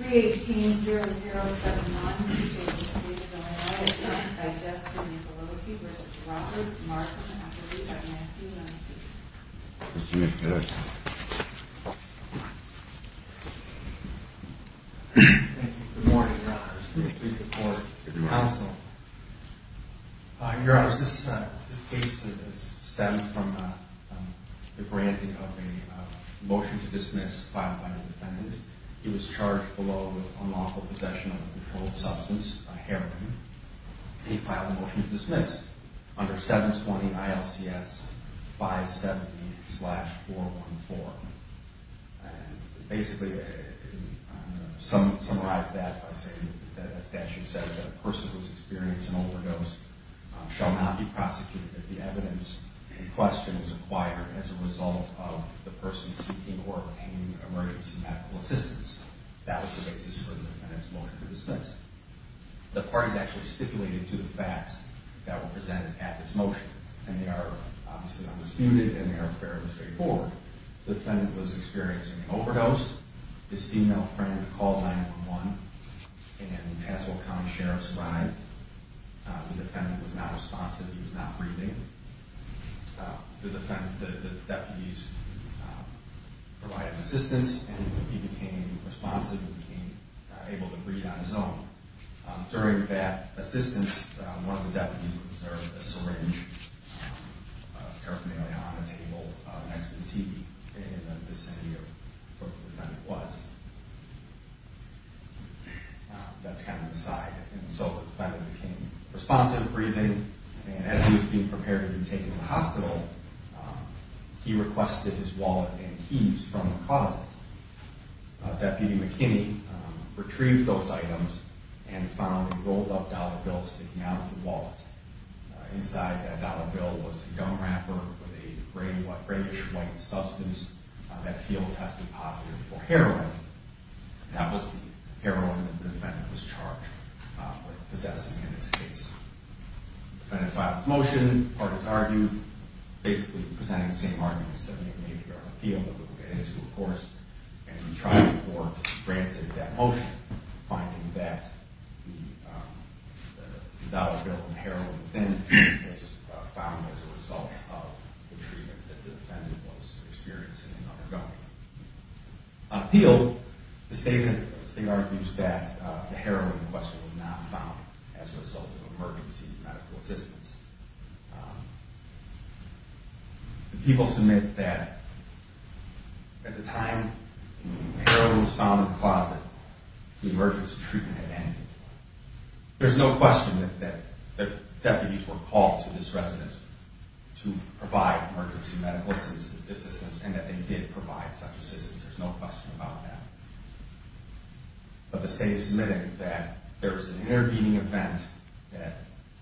318-0079, P.J.P.C. is the only way. It's been identified as Justin Nicolosi v. Robert Markham, actually, in 1990. Mr. McPherson. Good morning, Your Honors. I'm here to support the counsel. Your Honors, this case stems from the granting of a motion to dismiss filed by an independent. He was charged below with unlawful possession of a controlled substance, a heroin. He filed a motion to dismiss under 720-ILCS 570-414. Basically, it summarizes that by saying that the statute says that a person who has experienced an overdose shall not be prosecuted, that the evidence in question was acquired as a result of the person seeking or obtaining emergency medical assistance. That was the basis for the defendant's motion to dismiss. The parties actually stipulated to the facts that were presented at this motion, and they are obviously undisputed, and they are fairly straightforward. The defendant was experiencing an overdose. His female friend called 911, and the Tassel County Sheriff survived. The defendant was not responsive. He was not breathing. The deputies provided assistance, and he became responsive and became able to breathe on his own. During that assistance, one of the deputies observed a syringe paraphernalia on a table next to the TV in the vicinity of where the defendant was. That's kind of the side. And so the defendant became responsive, wasn't breathing, and as he was being prepared to be taken to the hospital, he requested his wallet and keys from the closet. Deputy McKinney retrieved those items and found a rolled-up dollar bill sticking out of the wallet. Inside that dollar bill was a gum wrapper with a grayish-white substance that field-tested positive for heroin. That was the heroin that the defendant was charged with possessing in this case. The defendant filed his motion. The court has argued, basically presenting the same arguments that we've made here on appeal that we'll get into, of course, and the trial court granted that motion, finding that the dollar bill and heroin within it was found as a result of the treatment that the defendant was experiencing and undergoing. On appeal, the state argues that the heroin, in question, was not found as a result of emergency medical assistance. People submit that at the time heroin was found in the closet, the emergency treatment had ended. There's no question that deputies were called to this residence to provide emergency medical assistance and that they did provide such assistance. There's no question about that. But the state is submitting that there was an intervening event that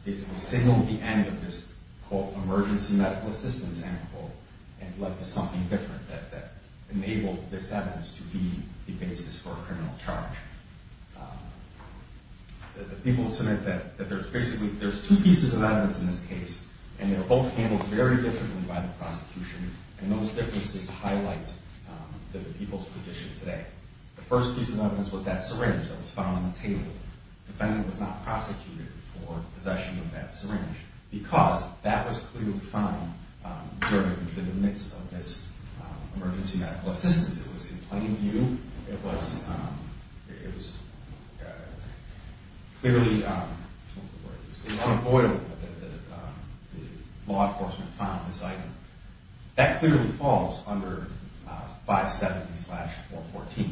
basically signaled the end of this, quote, emergency medical assistance end, quote, and led to something different that enabled this evidence to be the basis for a criminal charge. The people submit that there's basically two pieces of evidence in this case and they're both handled very differently by the prosecution and those differences highlight the people's position today. The first piece of evidence was that syringe that was found on the table. The defendant was not prosecuted for possession of that syringe because that was clearly found during, in the midst of this emergency medical assistance. It was in plain view, it was clearly the law enforcement found this item. That clearly falls under 570-414.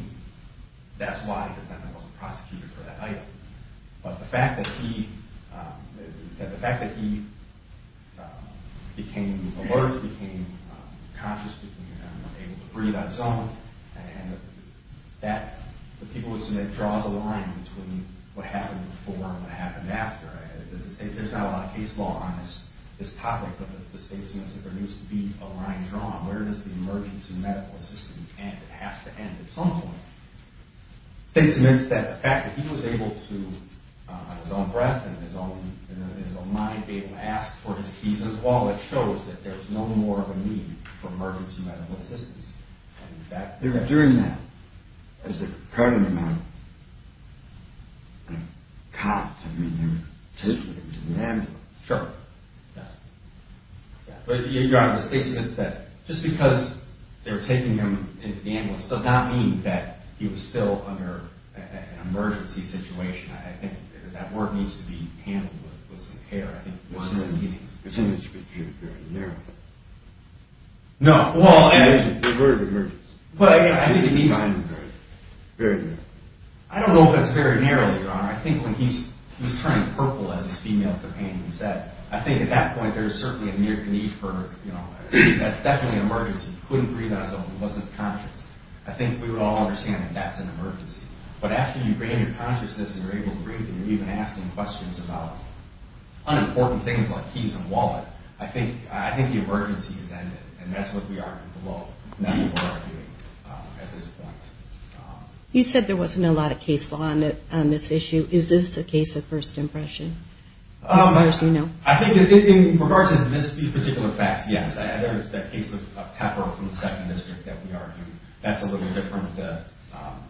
That's why the defendant wasn't prosecuted for that item. But the fact that he that the fact that he became alert, became conscious, became able to breathe on his own and that the people would submit draws a line between what happened before and what happened after. There's not a lot of case law on this topic but the state submits that there needs to be a line drawn. Where does the emergency medical assistance end? It has to end at some point. The state submits that the fact that he was able to on his own breath and his own mind be able to ask for his keys and his wallet shows that there's no more of a need for emergency medical assistance. During that, is there currently no cop to meet him? Sure. Yes. Your Honor, the state submits that just because they're taking him into the ambulance does not mean that he was still under an emergency situation. I think that work needs to be handled with some care. It seems to be very narrow. No. The word emergency. Very narrow. I don't know if that's very narrow, Your Honor. I think when he was turning purple as his female companion said, I think at that point there was certainly a need for, you know, that's definitely an emergency. He couldn't breathe on his own. He wasn't conscious. I think we would all understand that that's an emergency. But after you bring your consciousness and you're able to breathe and you're even asking questions about unimportant things like keys and wallet, I think the emergency has ended and that's what we are below and that's what we're doing at this point. You said there wasn't a lot of case law on this issue. Is this a case of first impression? As far as you know. I think in regards to these particular facts, yes, there is that case of Tepper from the 2nd District that we argued. That's a little different. The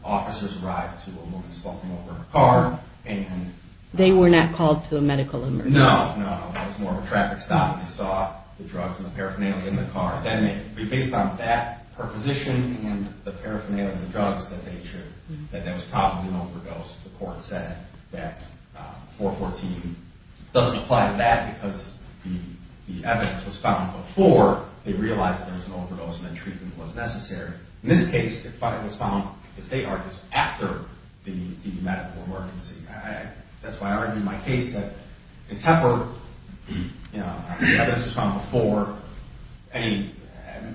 officers arrived to a woman smoking over her car and They were not called to a medical emergency. No, no. It was more of a traffic stop. They saw the drugs and the paraphernalia in the car. Based on that proposition and the paraphernalia of the drugs, that there was probably an overdose. The court said that 414 doesn't apply to that because the evidence was found before they realized there was an overdose and the treatment was necessary. In this case, it was found after the medical emergency. That's why I argue in my case that in Tepper, the evidence was found before any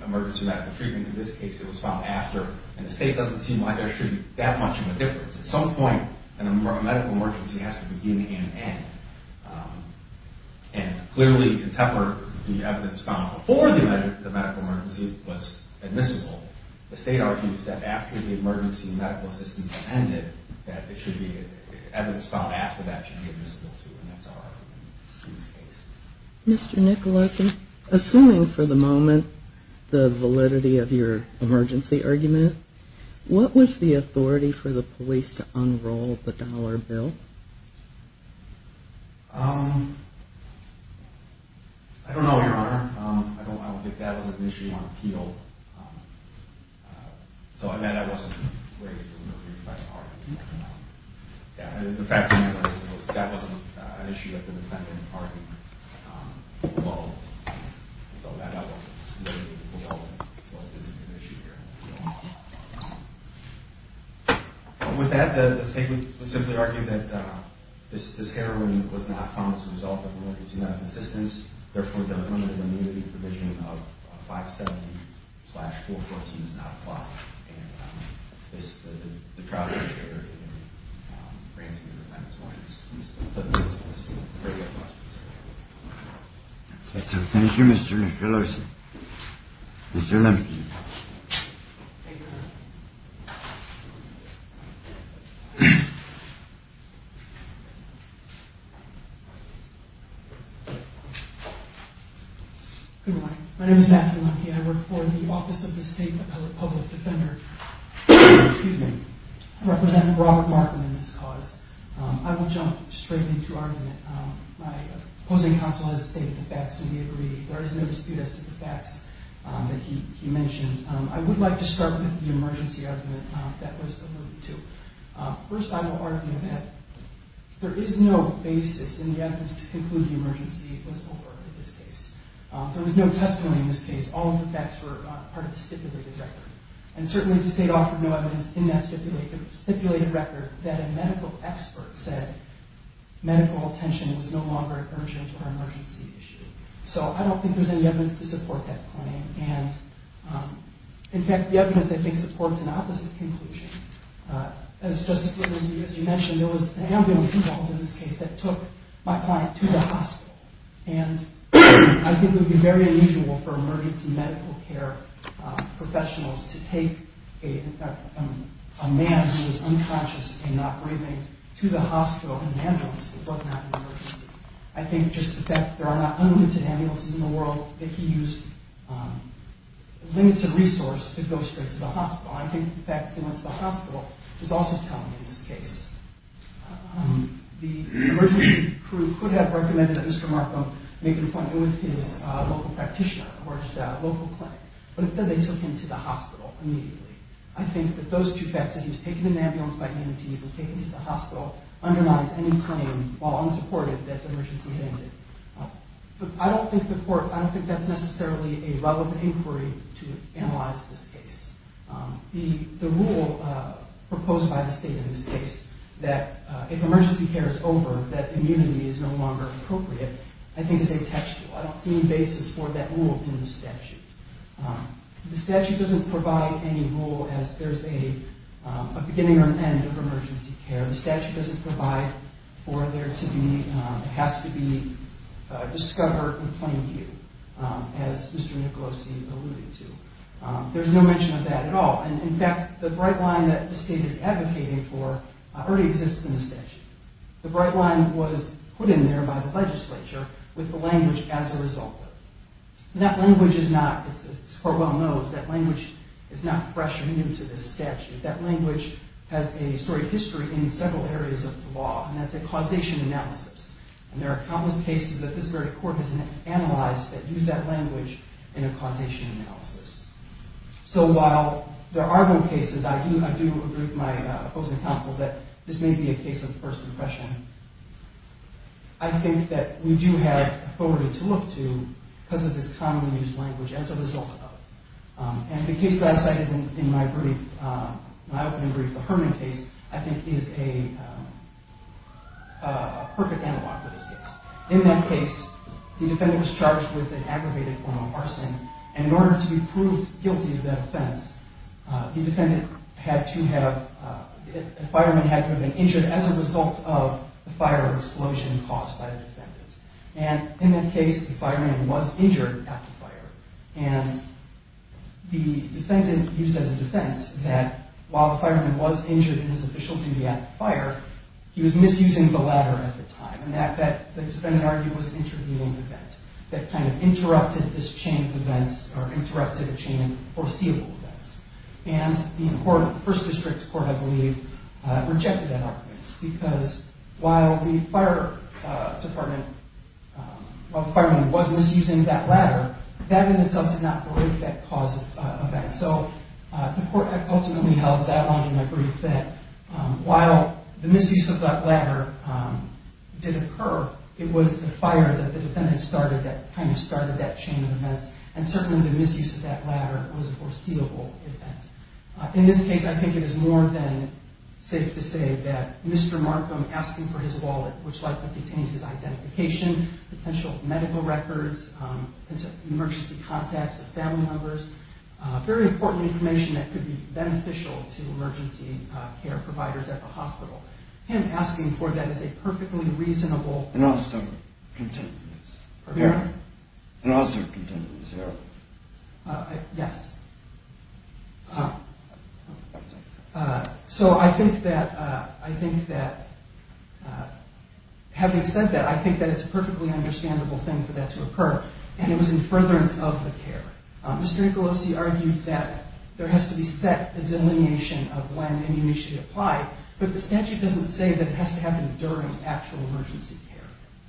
emergency medical treatment. In this case, it was found after. The state doesn't seem like there should be that much of a difference. At some point, a medical emergency has to begin and end. Clearly, in Tepper, the evidence found before the medical emergency was admissible. The state argues that after the emergency medical assistance ended, that the evidence found after that should be admissible too. That's our argument in this case. Mr. Nicholson, assuming for the moment the validity of your emergency argument, what was the authority for the police to unroll the dollar bill? Um... I don't know, Your Honor. I don't think that was an issue on appeal. So, I mean, I wasn't ready to remove it. The fact of the matter is that wasn't an issue that the defendant argued below. So, I don't know whether it was an issue here or not. With that, the state would simply argue that this heroin was not found as a result of emergency medical assistance. Therefore, the limited immunity provision of 570 slash 414 is not applied. And this, the trial that we shared brings me to my next point. Thank you. Thank you. Thank you, Mr. Nicholson. Mr. Lemke. Thank you, Your Honor. Good morning. My name is Matthew Lemke. I work for the Office of the State Public Defender. Excuse me. I represent Robert Martin in this cause. I will jump straight into argument. My opposing counsel has stated the facts and we agree. There is no dispute as to the facts that he mentioned. I would like to start with the emergency argument that was alluded to. First, I will argue that there is no basis in the evidence to conclude the emergency was over in this case. There was no testimony in this case. All of the facts were part of the stipulated record. And certainly, the state offered no evidence in that stipulated record that a medical expert said medical attention was no longer an urgent or emergency issue. I don't think there is any evidence to support that claim. In fact, the evidence, I think, supports an opposite conclusion. As you mentioned, there was an ambulance involved in this case that took my client to the hospital. I think it would be very unusual for emergency medical care professionals to take a man who was unconscious and not breathing to the hospital in an ambulance if it wasn't an emergency. I think just the fact that there are not unlimited ambulances in the world that he used limits of resource to go straight to the hospital. I think the fact that he went to the hospital is also telling in this case. The emergency crew could have recommended that Mr. Markham make an appointment with his local practitioner or his local clinic, but instead they I think that those two facts, that he was taken in an ambulance by EMTs and taken to the hospital underlies any claim, while unsupported, that the emergency had ended. I don't think the court I don't think that's necessarily a relevant inquiry to analyze this case. The rule proposed by the state in this case that if emergency care is over, that immunity is no longer appropriate, I think is atextual. I don't see any basis for that rule in the statute. The statute doesn't provide any rule as there's a beginning or an end of emergency care. The statute doesn't provide for there to be has to be discovered in plain view as Mr. Nicolosi alluded to. There's no mention of that at all. In fact, the bright line that the state is advocating for already exists in the statute. The bright line was put in there by the legislature with the language as a result of it. That language is not as the court well knows, that language is not fresh or new to this statute. That language has a storied history in several areas of the law, and that's a causation analysis. And there are countless cases that this very court has analyzed that use that language in a causation analysis. So while there are no cases I do agree with my opposing counsel that this may be a case of first impression. I think that we do have authority to look to because of this commonly used language as a result of it. And the case that I cited in my opening brief, the Herman case, I think is a perfect analog for this case. In that case, the defendant was charged with an aggravated form of arson and in order to be proved guilty of that offense, the defendant had to have a fireman had to have been injured as a result of the fire or explosion caused by the defendant. And in that case, the fireman was injured after fire. And the defendant used as a defense that while the fireman was injured in his official duty after fire, he was misusing the ladder at the time. And that, the defendant argued, was an intervening event that kind of interrupted this chain of events or interrupted a chain of foreseeable events. And the first district court, I believe, rejected that argument because while the fire department, while the fireman was misusing that ladder, that in itself did not break that cause of offense. So the court ultimately held that long in their brief that while the misuse of that ladder did occur, it was the fire that the defendant started that kind of started that chain of events. And certainly the misuse of that ladder was a foreseeable event. In this case, I think it is more than safe to say that Mr. Markham asking for his wallet, which likely contained his identification, potential medical records, emergency contacts of family members, very important information that could be beneficial to emergency care providers at the hospital. Him asking for that is a perfectly reasonable... And also contentious error. And also contentious error. Yes. So I think that having said that, I think that it's a perfectly understandable thing for that to occur. And it was in furtherance of the care. Mr. Ancalosi argued that there has to be set a delineation of when an initiative applied, but the statute doesn't say that it has to happen during actual emergency care.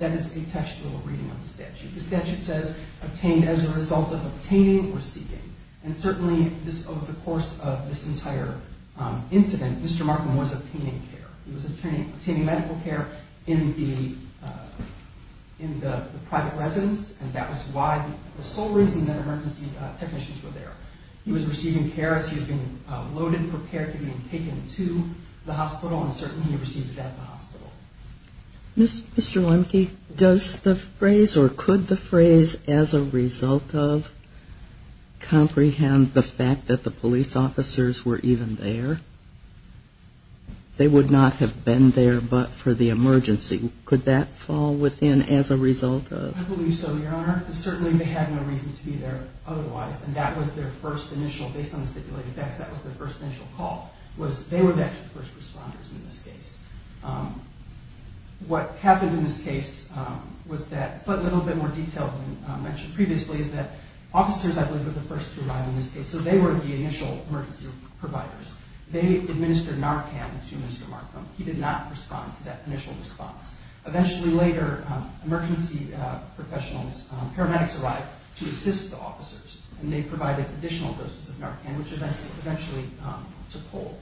That is a textual reading of the statute. The statute says obtained as a result of obtaining or seeking. And certainly over the course of this entire incident, Mr. Markham was obtaining care. He was obtaining medical care in the private residence, and that was the sole reason that emergency technicians were there. He was receiving care as he was being loaded and prepared to be taken to the hospital, and certainly he received that at the hospital. Mr. Lemke, does the phrase or could the phrase, as a result of, comprehend the fact that the police officers were even there? They would not have been there but for the emergency. Could that fall within as a result of? I believe so, Your Honor. Certainly they had no reason to be there otherwise, and that was their first initial, based on the stipulated facts, that was their first initial call. They were the actual first responders in this case. What happened in this case was that, a little bit more than I mentioned previously, is that officers, I believe, were the first to arrive in this case. They were the initial emergency providers. They administered Narcan to Mr. Markham. He did not respond to that initial response. Eventually later, emergency professionals, paramedics arrived to assist the officers, and they provided additional doses of Narcan, which eventually took hold.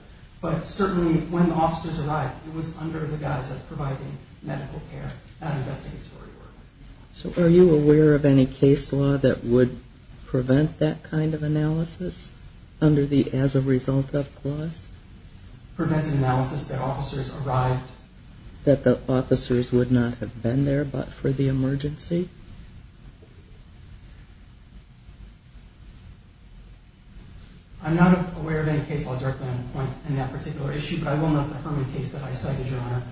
Certainly, when the officers arrived, it was under the guise of providing medical care, not investigatory work. So are you aware of any case law that would prevent that kind of analysis under the as a result of clause? Preventive analysis that officers arrived, that the officers would not have been there but for the emergency? I'm not aware of any case law directly on the point in that particular issue, but I will note the Herman case that I cited, Your Honor.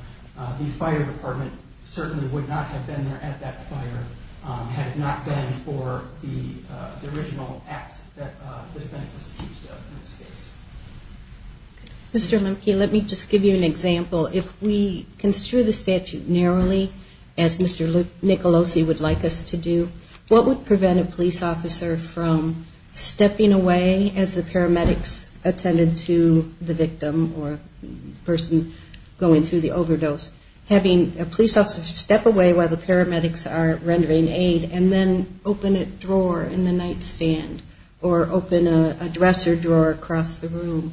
The fire department certainly would not have been there at that fire had it not been for the original act that the defendant was accused of in this case. Mr. Mumke, let me just give you an example. If we construe the statute narrowly, as Mr. Nicolosi would like us to do, what would prevent a police officer from stepping away as the paramedics attended to the victim, or a person going through the overdose, having a police officer step away while the paramedics are rendering aid, and then open a drawer in the nightstand or open a dresser drawer across the room?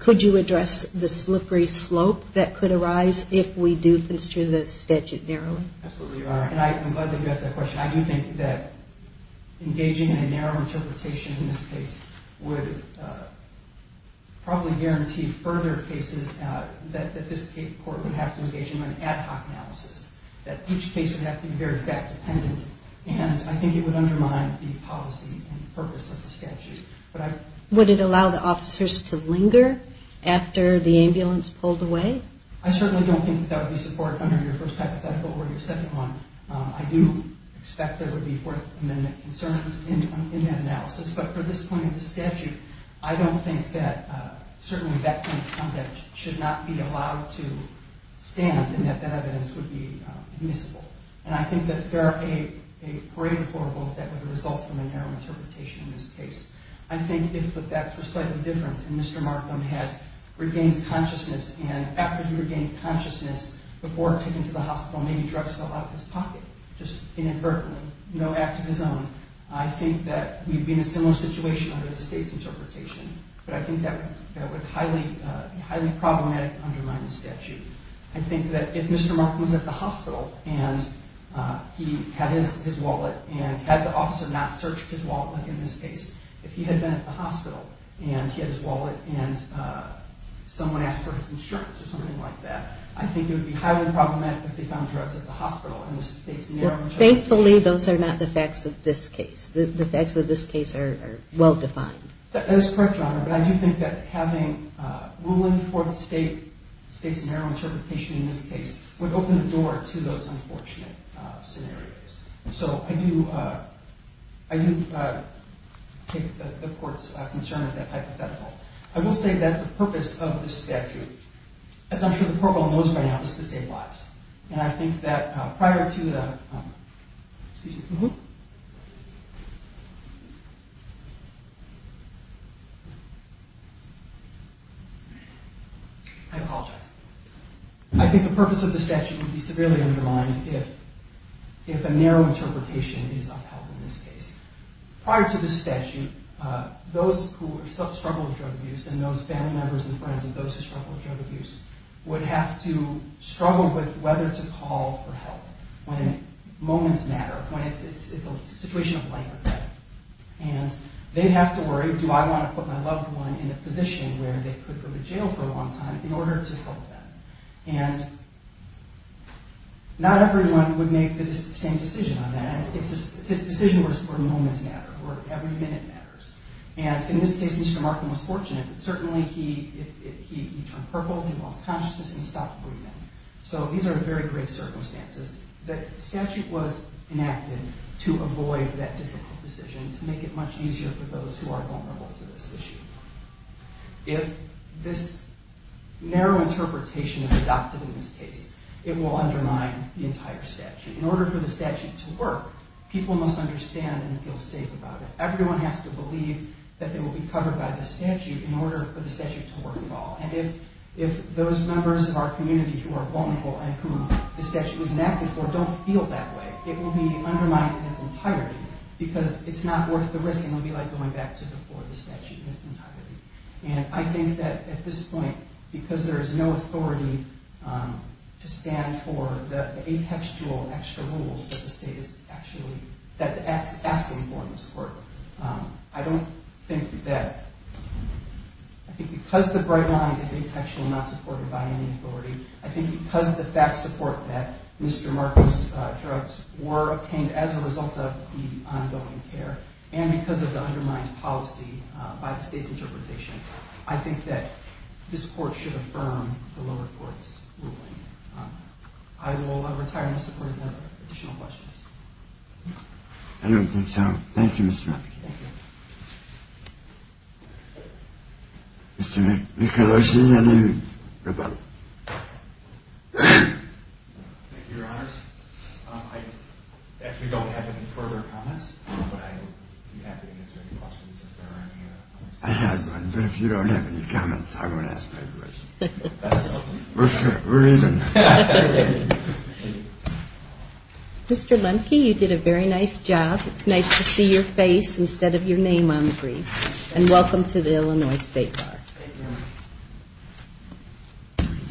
Could you address the slippery slope that could arise if we do construe the statute narrowly? Absolutely, Your Honor. And I'm glad that you asked that question. I do think that engaging in a narrow interpretation in this case would probably guarantee further cases that this court would have to engage in an ad hoc analysis, that each case would have to be very fact-dependent, and I think it would undermine the policy and purpose of the statute. Would it allow the officers to linger after the ambulance pulled away? I certainly don't think that would be supported under your first hypothetical or your second one. I do expect there would be Fourth Amendment concerns in that analysis, but for this point of the statute, I don't think that certainly that kind of conduct should not be allowed to stand and that that evidence would be admissible. And I think that there are a great horrible effect that would result from a narrow interpretation in this case. I think if the facts were slightly different and Mr. Markham had regained consciousness and after he regained consciousness before taking to the hospital, maybe drugs fell out of his pocket, just inadvertently. No act of his own. I think that we'd be in a similar situation under the state's interpretation, but I think that would be highly problematic and undermine the statute. I think that if Mr. Markham was at the hospital and he had his wallet and had the officer not searched his wallet, like in this case, if he had been at the hospital and he had his wallet and someone asked for his insurance or something like that, I think it would be highly problematic if they found drugs at the hospital in this narrow interpretation. Thankfully, those are not the facts of this case. The facts of this case are well defined. That is correct, Your Honor, but I do think that having ruling for the state's narrow interpretation in this case would open the door to those unfortunate scenarios. So I do take the court's concern of that hypothetical. I will say that the purpose of this statute, as I'm sure the court will know by now, is to save lives. And I think that prior to the statute, I apologize. I think the purpose of the statute would be severely undermined if a narrow interpretation is upheld in this case. Prior to the statute, those who struggle with drug abuse and those family members and friends and those who struggle with drug abuse would have to struggle with whether to call for help when moments matter, when it's a situation of life or death. And they'd have to worry, do I want to put my loved one in a position where they could go to jail for a long time in order to help them? And not everyone would make the same decision on that. It's a decision where moments matter, where every minute matters. And in this case, Mr. Markham was fortunate. Certainly, he turned purple, he lost consciousness, and under very great circumstances, the statute was enacted to avoid that difficult decision, to make it much easier for those who are vulnerable to this issue. If this narrow interpretation is adopted in this case, it will undermine the entire statute. In order for the statute to work, people must understand and feel safe about it. Everyone has to believe that they will be covered by the statute in order for the statute to work at all. And if those members of our community who are vulnerable and whom the statute was enacted for don't feel that way, it will be undermined in its entirety because it's not worth the risk, and it will be like going back to before the statute in its entirety. And I think that at this point, because there is no authority to stand for the atextual extra rules that the state is actually asking for in this court, I don't think that I think because the fact support that Mr. Marcos' drugs were obtained as a result of the ongoing care, and because of the undermined policy by the state's interpretation, I think that this court should affirm the lower court's ruling. I will retire in support of additional questions. I don't think so. Thank you, Mr. Marcos. Mr. Nicolosi, any rebuttal? Thank you, Your Honors. I actually don't have any further comments, but I would be happy to answer any questions if there are any. I had one, but if you don't have any comments, I won't ask any questions. We're even. Thank you. Mr. Lemke, you did a very nice job. It's nice to see your face instead of your name on the briefs, and welcome to the Illinois State Bar.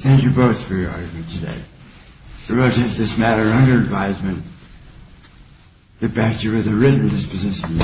Thank you both for your argument today. The road to this matter under advisement that bans you with a written disposition.